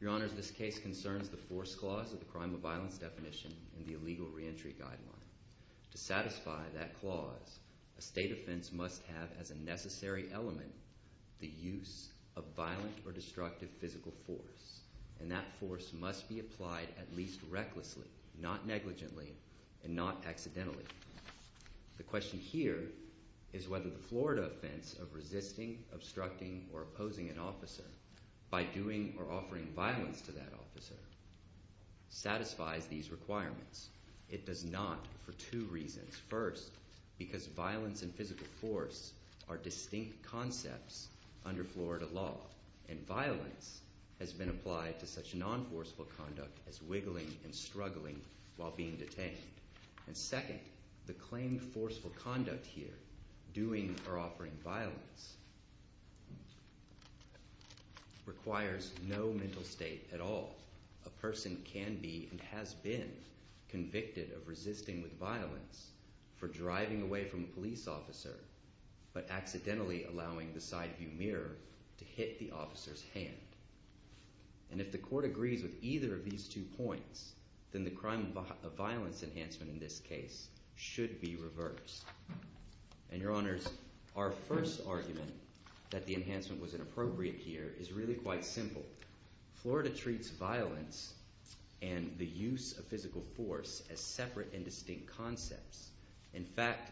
Your Honors, this case concerns the Force Clause of the Crime of Violence Definition in the Illegal Reentry Guideline. To satisfy that clause, a State offense must have as be applied at least recklessly, not negligently, and not accidentally. The question here is whether the Florida offense of resisting, obstructing, or opposing an officer by doing or offering violence to that officer satisfies these requirements. It does not for two reasons. First, because violence and physical force are distinct concepts under Florida law, and non-forceful conduct as wiggling and struggling while being detained. And second, the claimed forceful conduct here, doing or offering violence, requires no mental state at all. A person can be, and has been, convicted of resisting with violence for driving away from a police officer, but accidentally allowing the side view mirror to hit the officer's hand. And if the court agrees with either of these two points, then the crime of violence enhancement in this case should be reversed. And Your Honors, our first argument that the enhancement was inappropriate here is really quite simple. Florida treats violence and the use of physical force as separate and distinct concepts. In fact,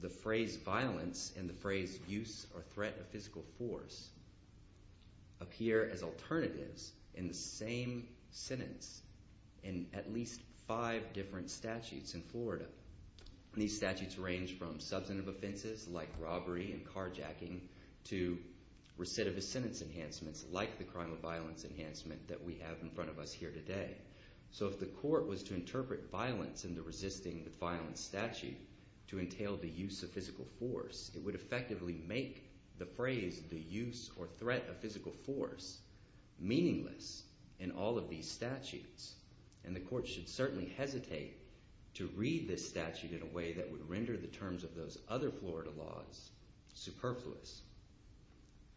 the phrase violence and the phrase use or threat of physical force appear as alternatives in the same sentence in at least five different statutes in Florida. These statutes range from substantive offenses like robbery and carjacking to recidivist sentence enhancements like the crime of violence enhancement that we have in front of us here today. So if the court was to interpret violence in the resisting with violence statute to entail the use of physical force, it would effectively make the phrase the use or threat of physical force meaningless in all of these statutes. And the court should certainly hesitate to read this statute in a way that would render the terms of those other Florida laws superfluous.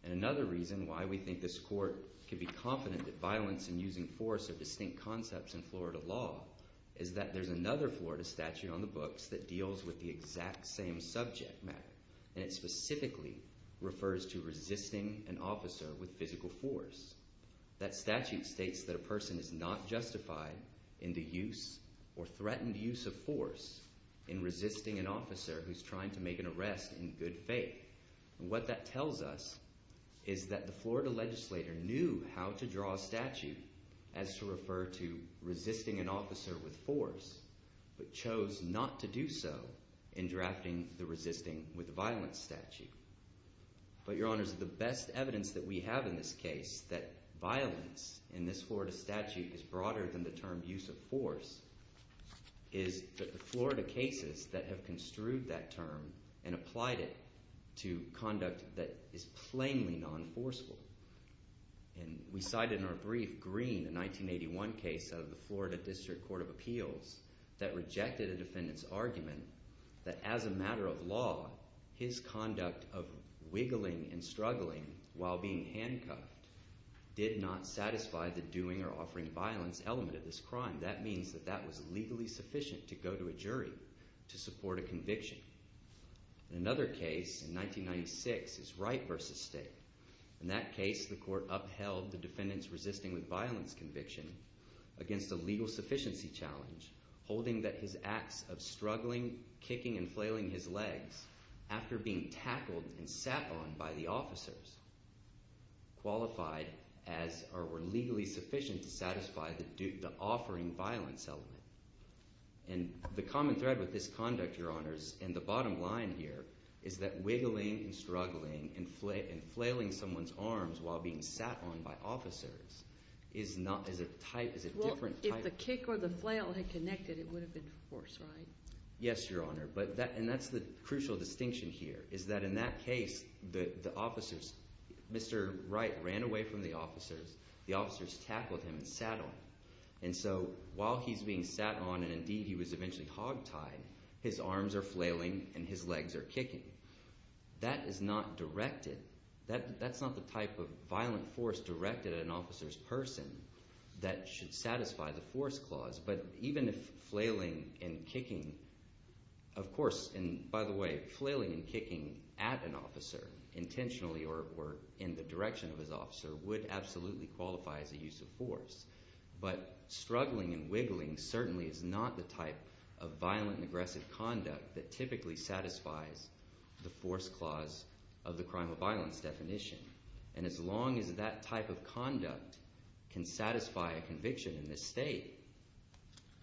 And another reason why we think this court could be confident that violence and using force are distinct concepts in Florida law is that there's another Florida statute on the books that deals with the exact same subject matter. And it specifically refers to resisting an officer with physical force. That statute states that a person is not justified in the use or threatened use of force in resisting an officer who's trying to make an arrest in good faith. And what that tells us is that a Florida legislator knew how to draw a statute as to refer to resisting an officer with force, but chose not to do so in drafting the resisting with violence statute. But your honors, the best evidence that we have in this case that violence in this Florida statute is broader than the term use of force is that the Florida cases that have construed that term and applied it to conduct that is plainly non-forceful. And we cited in our brief, Green, a 1981 case out of the Florida District Court of Appeals that rejected a defendant's argument that as a matter of law, his conduct of wiggling and struggling while being handcuffed did not satisfy the doing or offering violence element of this crime. That means that that was legally sufficient to go to a jury to support a conviction. Another case in 1996 is Wright v. State. In that case, the court upheld the defendant's resisting with violence conviction against a legal sufficiency challenge, holding that his acts of struggling, kicking and flailing his legs after being tackled and sat on by the officers qualified as or offering violence element. And the common thread with this conduct, your honors, and the bottom line here is that wiggling and struggling and flailing someone's arms while being sat on by officers is not as a type, is a different type. Well, if the kick or the flail had connected, it would have been force, right? Yes, your honor. And that's the crucial distinction here is that in that case, the officers, Mr. Wright ran away from the officers, the officers tackled him and sat on him. And so while he's being sat on and indeed he was eventually hogtied, his arms are flailing and his legs are kicking. That is not directed. That's not the type of violent force directed at an officer's person that should satisfy the force clause. But even if flailing and kicking, of course, and by the way, flailing and kicking at an officer intentionally or in the direction of his officer would absolutely qualify as a use of force. But struggling and wiggling certainly is not the type of violent and aggressive conduct that typically satisfies the force clause of the crime of violence definition. And as long as that type of conduct can satisfy a conviction in this state,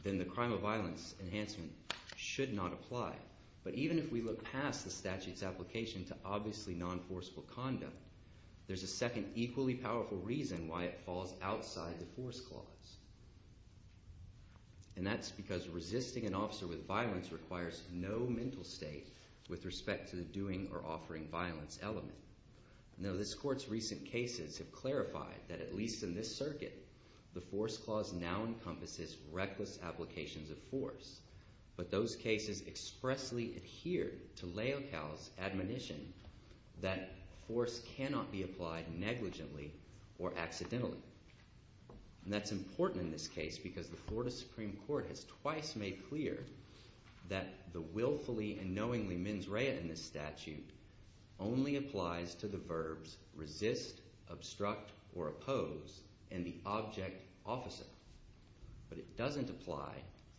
then the crime of violence enhancement should not apply. But even if we look past the statute's application to obviously non-forceful conduct, there's a second equally powerful reason why it falls outside the force clause. And that's because resisting an officer with violence requires no mental state with respect to the doing or offering violence element. Now this court's recent cases have clarified that at least in this circuit, the force clause now encompasses reckless applications of force. But those cases expressly adhere to Leocal's admonition that force cannot be applied negligently or accidentally. And that's important in this case because the Florida Supreme Court has twice made clear that the willfully and knowingly mens rea in this statute only applies to the force and the object officer. But it doesn't apply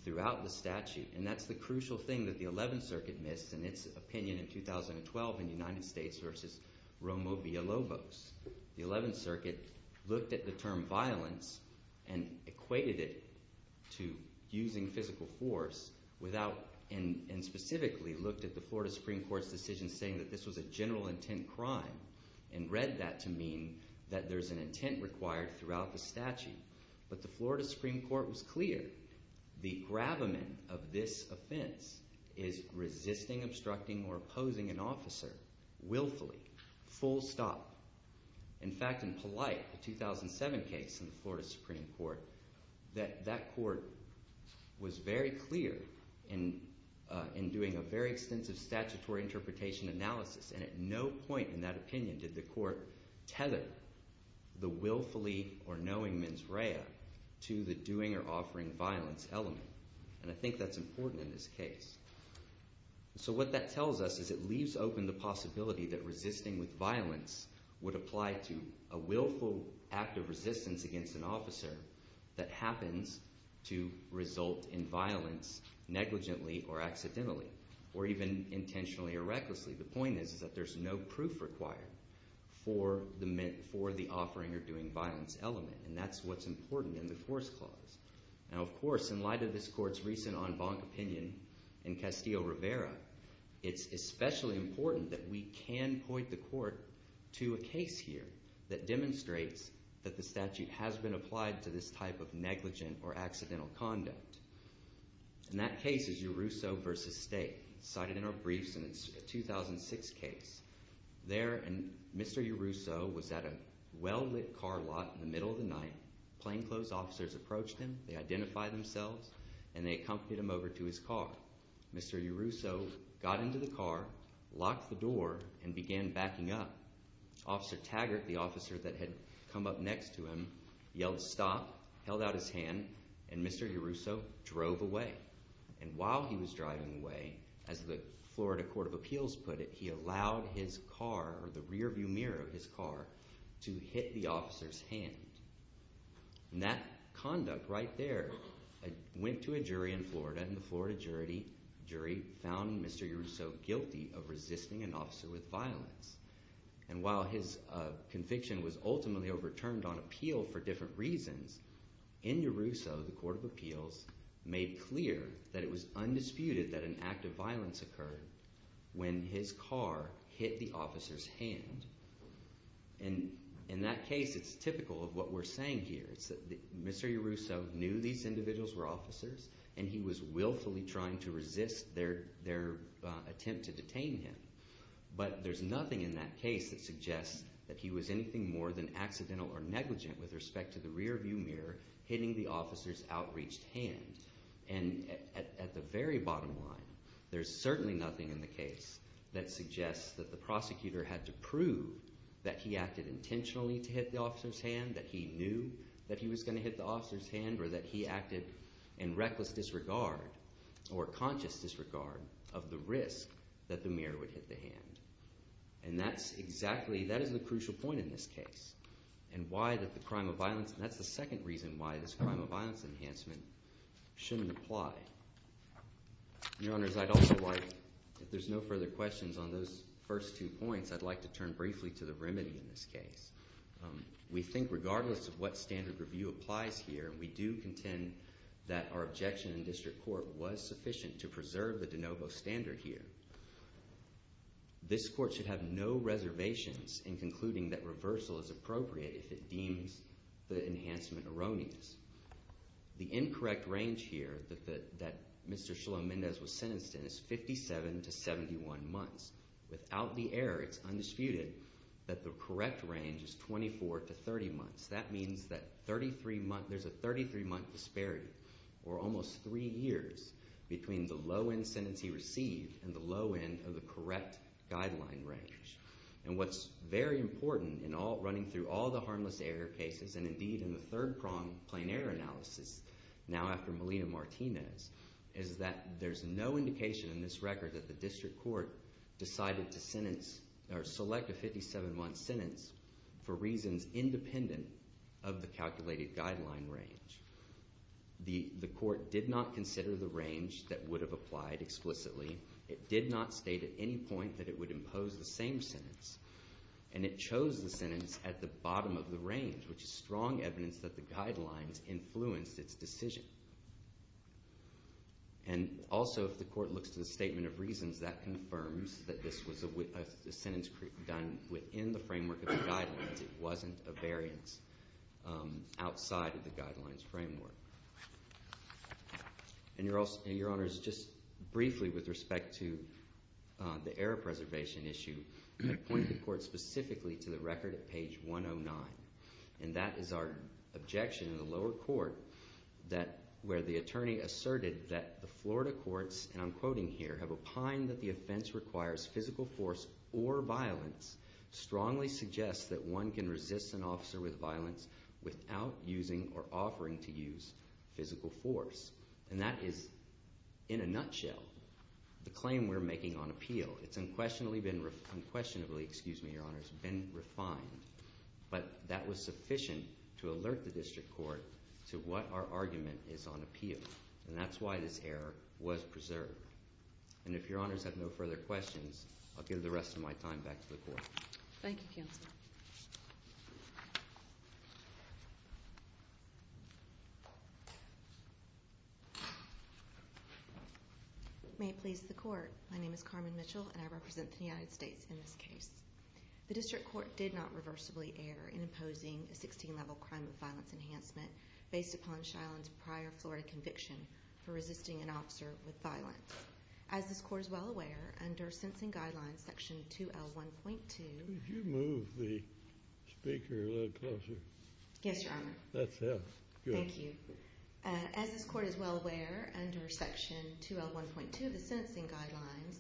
throughout the statute. And that's the crucial thing that the 11th Circuit missed in its opinion in 2012 in United States versus Romo v. Lobos. The 11th Circuit looked at the term violence and equated it to using physical force without and specifically looked at the Florida Supreme Court's decision saying that this was a general intent crime and read that to mean that there's an intent required throughout the statute. But the Florida Supreme Court was clear. The gravamen of this offense is resisting, obstructing, or opposing an officer willfully, full stop. In fact, in Polite, the 2007 case in the Florida Supreme Court, that court was very clear in doing a very extensive statutory interpretation analysis. And at no point in that opinion did the court tether the willfully or knowing mens rea to the doing or offering violence element. And I think that's important in this case. So what that tells us is it leaves open the possibility that resisting with violence would apply to a willful act of resistance against an officer that happens to result in violence negligently or accidentally or even intentionally or recklessly. The point is that there's no proof required for the offering or doing violence element. And that's what's important in the force clause. Now of course, in light of this court's recent en banc opinion in Castillo Rivera, it's especially important that we can point the court to a case here that demonstrates that the statute has been applied to this type of negligent or accidental conduct. And that case is Yerusso v. State, cited in our briefs in the 2006 case. There, Mr. Yerusso was at a well-lit car lot in the middle of the night. Plainclothes officers approached him, they identified themselves, and they accompanied him over to his car. Mr. Yerusso got into the car, locked the door, and began backing up. Officer Taggart, the officer that had come up next to him, yelled a stop, held out his hand, and Mr. Yerusso drove away. And while he was driving away, as the Florida Court of Appeals put it, he allowed his car, or the rear view mirror of his car, to hit the officer's hand. And that conduct right there went to a jury in Florida, and the Florida jury found Mr. Yerusso guilty of resisting an officer with violence. And while his conviction was ultimately overturned on appeal for different reasons, in Yerusso, the Court of Appeals made clear that it was undisputed that an act of violence occurred when his car hit the officer's hand. And in that case, it's typical of what we're saying here. Mr. Yerusso knew these individuals were officers, and he was willfully trying to resist their attempt to detain him. But there's nothing in that case that suggests that he was anything more than accidental or negligent with respect to the rear view mirror hitting the officer's outreached hand. And at the very bottom line, there's certainly nothing in the case that suggests that the prosecutor had to prove that he acted intentionally to hit the officer's hand, that he knew that he was going to hit the officer's hand, or that he acted in reckless disregard or conscious disregard of the risk that the mirror would hit the hand. And that's exactly, that is the crucial point in this case, and why the crime of violence, and that's the second reason why this crime of violence enhancement shouldn't apply. Your Honors, I'd also like, if there's no further questions on those first two points, I'd like to turn briefly to the remedy in this case. We think regardless of what standard review applies here, we do contend that our objection in district court was sufficient to preserve the de novo standard here. This court should have no reservations in concluding that reversal is appropriate if it deems the enhancement erroneous. The incorrect range here that Mr. Shalom Mendez was sentenced in is 57 to 71 months. Without the error, it's undisputed that the correct range is 24 to 30 months. That means that 33 months, there's a 33-month disparity, or almost three years, between the low-end sentence he received and the low-end of the correct guideline range. And what's very important in all, running through all the harmless error cases, and indeed in the third-pronged plain error analysis, now after Melina Martinez, is that there's no indication in this record that the district court decided to sentence, or select a 57-month sentence, for reasons independent of the calculated guideline range. The court did not consider the range that would have applied explicitly. It did not state at any point that it would impose the same sentence. And it chose the sentence at the bottom of the range, which is strong evidence that the guidelines influenced its decision. And also, if the court looks to the statement of reasons, that confirms that this was a sentence done within the framework of the guidelines. It wasn't a variance outside of the guidelines framework. And your Honor, just briefly with respect to the error preservation issue, I point the court specifically to the record at page 109. And that is our objection in the lower court, where the attorney asserted that the Florida courts, and I'm quoting here, have opined that the offense requires physical force or violence, strongly suggests that one can resist an officer with violence without using or offering to use physical force. And that is, in a nutshell, the claim we're making on appeal. It's unquestionably been refined. But that was sufficient to alert the district court to what our argument is on appeal. And that's why this error was preserved. And if your Honors have no further questions, I'll give the rest of my time back to the court. Thank you, counsel. May it please the court. My name is Carmen Mitchell, and I represent the United States in this case. The district court did not reversibly err in imposing a 16-level crime of violence enhancement based upon Shyland's prior Florida conviction for resisting an officer with violence. As this court is well aware, under Sentencing Guidelines, Section 2L1.2... Could you move the speaker a little closer? Yes, Your Honor. That's better. Thank you. As this court is well aware, under Section 2L1.2 of the Sentencing Guidelines,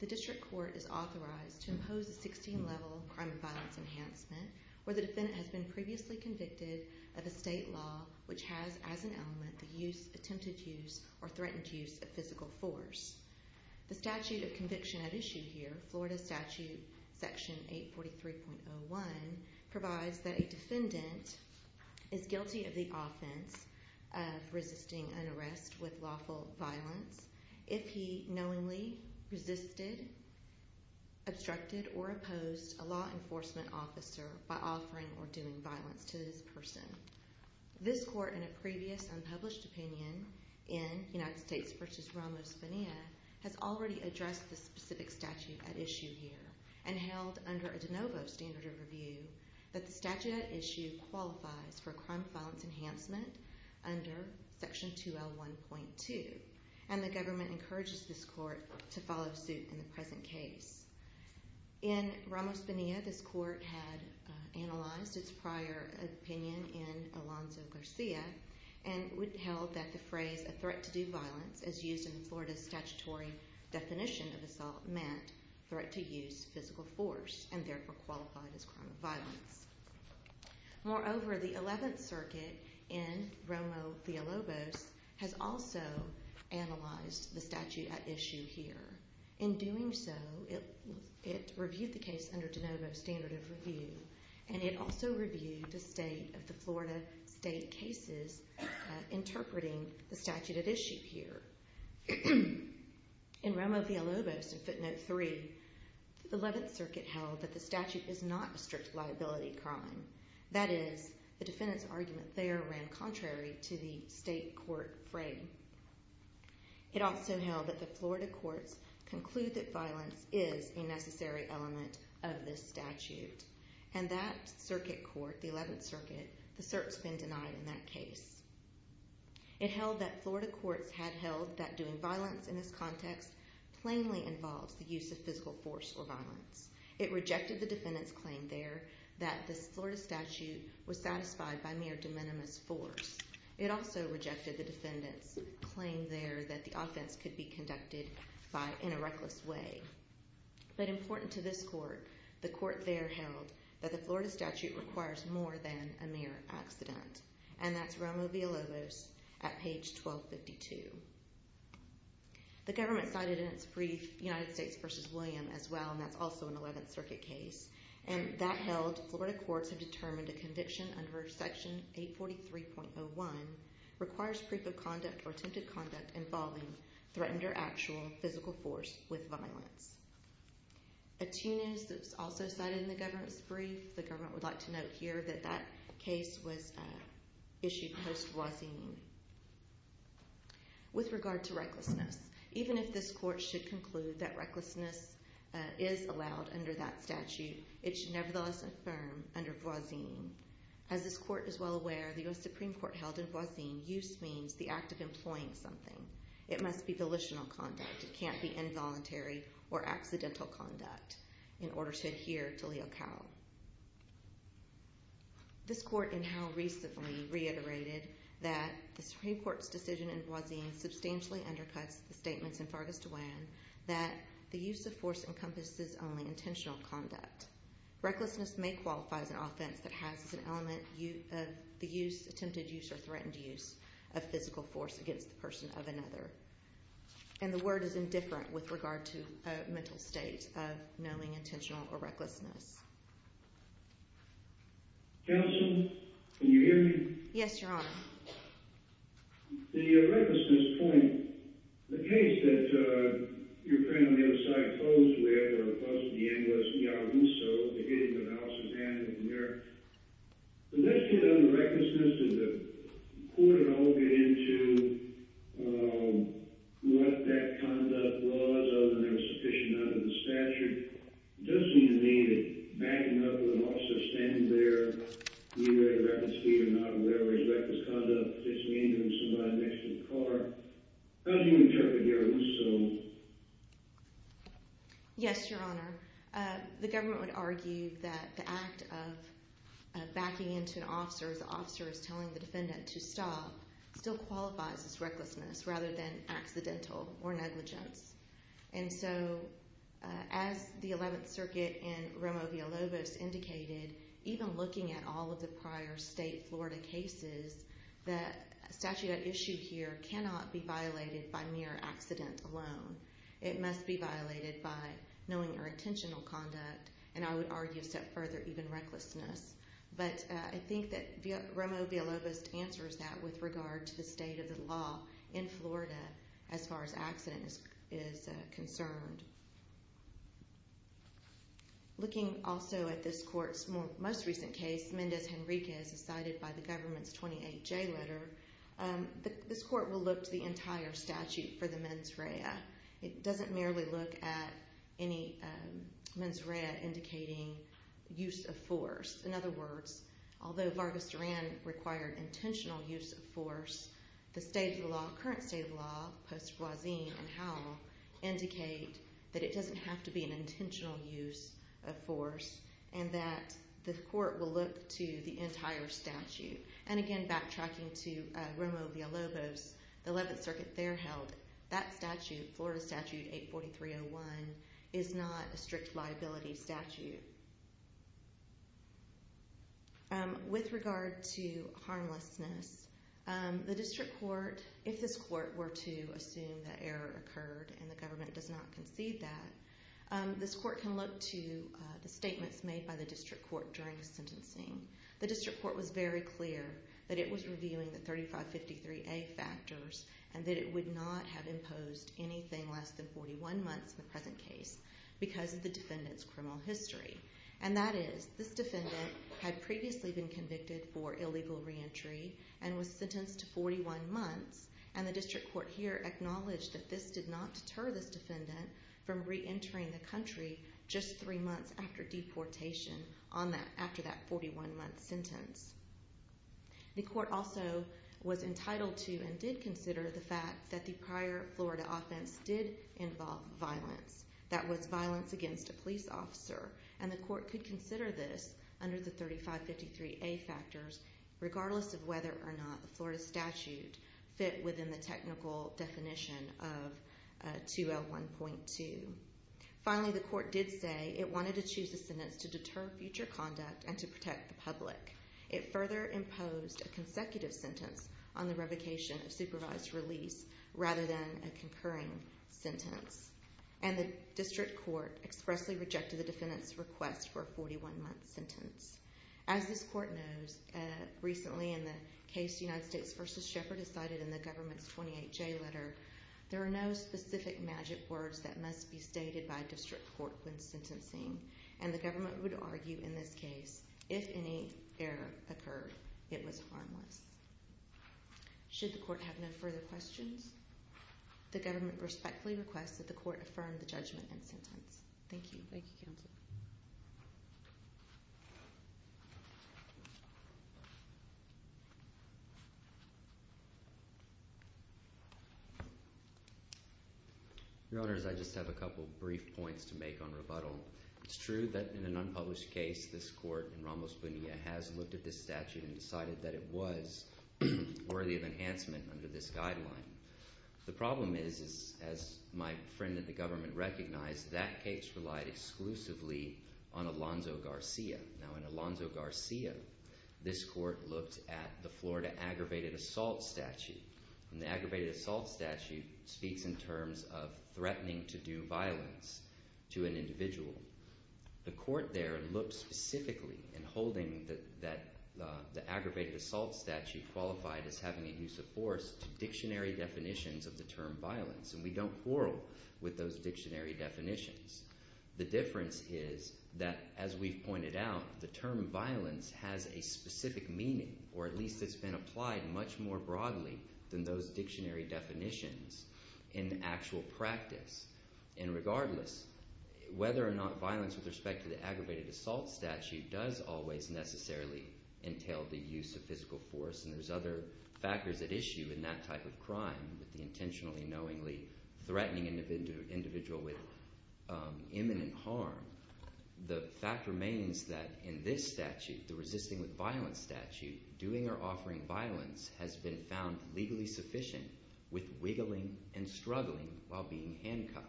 the district court is authorized to impose a 16-level crime of violence enhancement where the defendant has been previously convicted of a state law which has as an element the use, attempted use, or threatened use of physical force. The statute of conviction at issue here, Florida Statute Section 843.01, provides that a defendant is guilty of the offense of resisting an arrest with lawful violence if he knowingly resisted, obstructed, or opposed a law enforcement officer by offering or doing so in person. This court, in a previous unpublished opinion in United States v. Ramos-Bonilla, has already addressed the specific statute at issue here and held under a de novo standard of review that the statute at issue qualifies for crime of violence enhancement under Section 2L1.2, and the government encourages this court to follow suit in the present case. In Ramos-Bonilla, this court had analyzed its prior opinion in Alonzo-Garcia and held that the phrase, a threat to do violence, as used in Florida's statutory definition of assault, meant threat to use physical force, and therefore qualified as crime of violence. Moreover, the 11th Circuit in Romo-Fialobos has also analyzed the statute at issue here. In doing so, it reviewed the case under de novo standard of review, and it also reviewed the state of the Florida state cases interpreting the statute at issue here. In Romo-Fialobos in footnote 3, the 11th Circuit held that the statute is not a strict liability crime. That is, the defendant's argument there ran contrary to the state court frame. It also held that the Florida courts conclude that violence is a necessary element of this statute, and that circuit court, the 11th Circuit, the cert's been denied in that case. It held that Florida courts had held that doing violence in this context plainly involves the use of physical force or violence. It rejected the defendant's claim there that this Florida statute was satisfied by mere de minimis force. It also rejected the defendant's claim there that the offense could be conducted in a reckless way. But important to this court, the court there held that the Florida statute requires more than a mere accident, and that's Romo-Fialobos at page 1252. The government cited in its brief United States v. William as well, and that's also an 11th Circuit case, and that held Florida courts have determined a conviction under Section 843.01 requires proof of conduct or attempted conduct involving threatened or actual physical force with violence. A two-news that was also cited in the government's brief, the government would like to note here that that case was issued post-Voisin. With regard to recklessness, even if this court should conclude that recklessness is allowed under that statute, it should nevertheless affirm under Voisin. As this court is well aware, the U.S. Supreme Court held in Voisin, use means the act of employing something. It must be volitional conduct. It can't be involuntary or accidental conduct in order to adhere to l'il cal. This court in Howe recently reiterated that the Supreme Court's decision in Voisin substantially undercuts the statements in Fargus DeWan that the use of force encompasses only intentional conduct. Recklessness may qualify as an offense that has as an element of the use, attempted use or threatened use, of physical force against the person of another. And the word is indifferent with regard to a mental state of knowing intentional or recklessness. Counsel, can you hear me? Yes, Your Honor. The recklessness point, the case that you're putting on the other side for, the case that you proposed where there are clauses in the end was Yarouso, the hitting of Al Sarkhanian in New York. Does this kid on recklessness, did the court at all get into what that conduct was, other than there was sufficient none under the statute? It does seem to me that backing up with an officer standing there, either at a rapid speed or not, or whatever his reckless conduct is, is the same as somebody next to the car. How do you interpret Yarouso Yes, Your Honor. The government would argue that the act of backing into an officer as the officer is telling the defendant to stop still qualifies as recklessness rather than accidental or negligence. And so, as the 11th Circuit in Romo v. Alobos indicated, even looking at all of the prior state Florida cases, the statute at issue here cannot be alone. It must be violated by knowing your intentional conduct, and I would argue a step further, even recklessness. But I think that Romo v. Alobos answers that with regard to the state of the law in Florida as far as accident is concerned. Looking also at this court's most recent case, Mendez Henriquez, cited by the government's 28J letter, this court will look to the entire statute for the mens rea. It doesn't merely look at any mens rea indicating use of force. In other words, although Vargas Duran required intentional use of force, the state of the law, current state of the law, Post-Roisin and Howell, indicate that it doesn't have to be an intentional use of force and that the court will look to the entire statute. And again, backtracking to Romo v. Alobos, the 11th Circuit there held that statute, Florida Statute 84301, is not a strict liability statute. With regard to harmlessness, the District Court, if this court were to assume that error occurred and the government does not concede that, this court can look to the statements made by the District Court during the sentencing. The District Court was very clear that it was reviewing the 3553A factors and that it would not have imposed anything less than 41 months in the present case because of the defendant's criminal history. And that is, this defendant had previously been convicted for illegal reentry and was sentenced to 41 months, and the District Court here acknowledged that this did not deter this defendant from after that 41-month sentence. The court also was entitled to and did consider the fact that the prior Florida offense did involve violence. That was violence against a police officer, and the court could consider this under the 3553A factors, regardless of whether or not the Florida statute fit within the technical definition of 201.2. Finally, the statute did not deter future conduct and to protect the public. It further imposed a consecutive sentence on the revocation of supervised release rather than a concurring sentence, and the District Court expressly rejected the defendant's request for a 41-month sentence. As this court knows, recently in the case United States v. Shepherd is cited in the government's 28J letter, there are no specific magic words that must be stated by District Court when sentencing, and the government would argue in this case, if any error occurred, it was harmless. Should the court have no further questions, the government respectfully requests that the court affirm the judgment and sentence. Thank you. Thank you, counsel. Your Honors, I just have a couple brief points to make on rebuttal. It's true that in an unpublished case, this court in Ramos Bonilla has looked at this statute and decided that it was worthy of enhancement under this guideline. The problem is, as my friend in the government recognized, that case relied exclusively on Alonzo Garcia. Now, in Alonzo Garcia, this court looked at the Florida Aggravated Assault Statute, and the Aggravated Assault Statute speaks in terms of threatening to do violence to an individual. The court there looked specifically in holding that the Aggravated Assault Statute qualified as having a use of force to dictionary definitions of the term violence, and we don't quarrel with those dictionary definitions. The difference is that, as we've pointed out, the term violence has a specific meaning, or at least it's been applied much more broadly than those dictionary definitions in actual practice. And regardless, whether or not violence with respect to the Aggravated Assault Statute does always necessarily entail the use of physical force, and there's other factors at issue in that type of crime with the intentionally, knowingly threatening individual with imminent harm, the fact remains that in this statute, the resisting with violence statute, doing or offering violence has been found legally sufficient with wiggling and struggling while being handcuffed.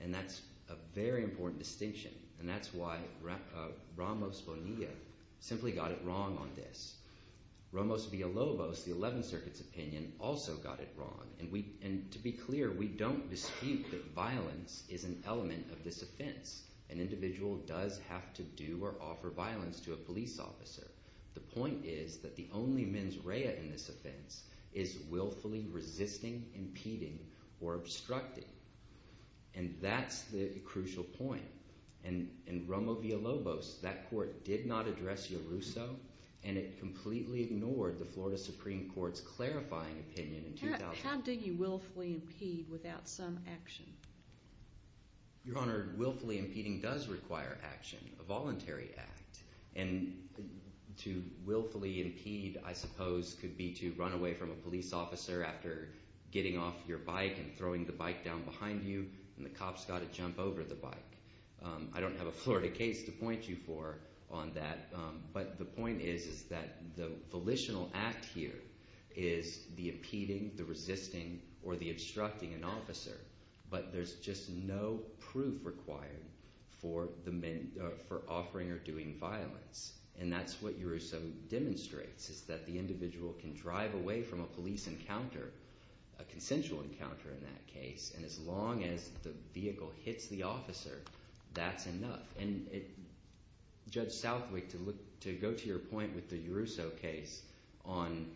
And that's a very important distinction, and that's why Ramos Bonilla simply got it wrong on this. Ramos Villalobos, the 11th Circuit's opinion, also got it wrong. And to be clear, we don't dispute that violence is an element of this offense. An individual does have to do or offer violence to a police officer. The point is that the only mens rea in this offense is willfully resisting, impeding, or obstructing. And that's the crucial point. In Ramos Villalobos, that court did not address Yeruso, and it completely ignored the Florida Supreme Court's clarifying opinion in 2009. How did you willfully impede without some action? Your Honor, willfully impeding does require action, a voluntary act. And to willfully impede, I suppose, could be to run away from a police officer after getting off your bike and throwing the bike down behind you, and the cop's got to jump over the bike. I don't have a Florida case to point you for on that, but the point is that the volitional act here is the impeding, the resisting, or the obstructing an officer. But there's just no proof required for offering or doing violence. And that's what Yeruso demonstrates, is that the individual can drive away from a police encounter, a consensual encounter in that case, and as long as the vehicle hits the officer, that's enough. And Judge Southwick, to go to your point with the Yeruso case on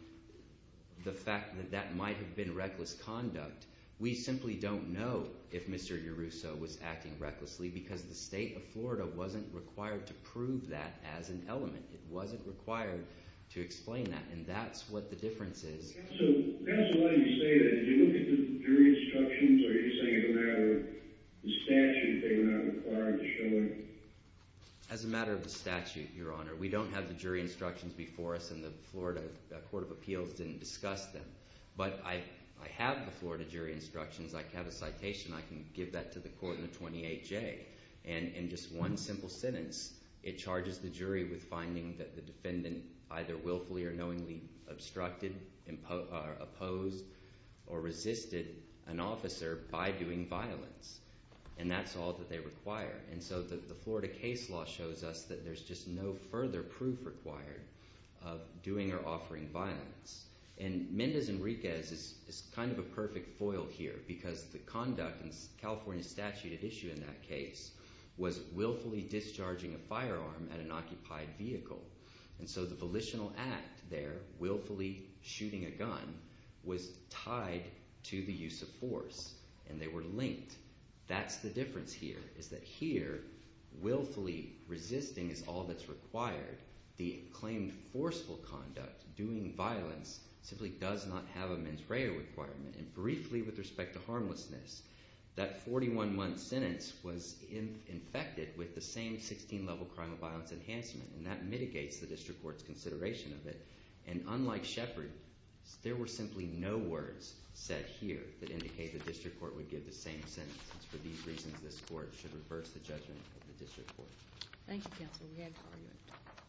the fact that that might have been reckless conduct, we simply don't know if Mr. Yeruso was acting recklessly because the state of Florida wasn't required to prove that as an element. It wasn't required to explain that, and that's what the difference is. So that's why you say that. Did you look at the jury instructions, or are you saying it was a matter of the statute they were not required to show it? As a matter of the statute, Your Honor, we don't have the jury instructions before us, and the Florida Court of Appeals didn't discuss them. But I have the Florida jury instructions. I have a citation. I can give that to the court in the 28J. And in just one simple sentence, it charges the jury with finding that the defendant either willfully or knowingly obstructed, opposed, or resisted an officer by doing violence. And that's all that they require. And so the Florida case law shows us that there's just no further proof required of doing or offering violence. And Mendez Enriquez is kind of a perfect foil here because the conduct in the California statute at issue in that case was willfully discharging a firearm at an occupied vehicle. And so the volitional act there, willfully shooting a gun, was tied to the use of force, and they were linked. That's the difference here, is that here, willfully resisting is all that's required. The claimed forceful conduct, doing violence, simply does not have a mens rea requirement. And briefly, with respect to harmlessness, that 41-month sentence was infected with the same 16-level crime of violence enhancement, and that mitigates the district court's consideration of it. And unlike Shepard, there were simply no words said here that indicate the district court would give the same sentence. For these Thank you, counsel. We had a hard time.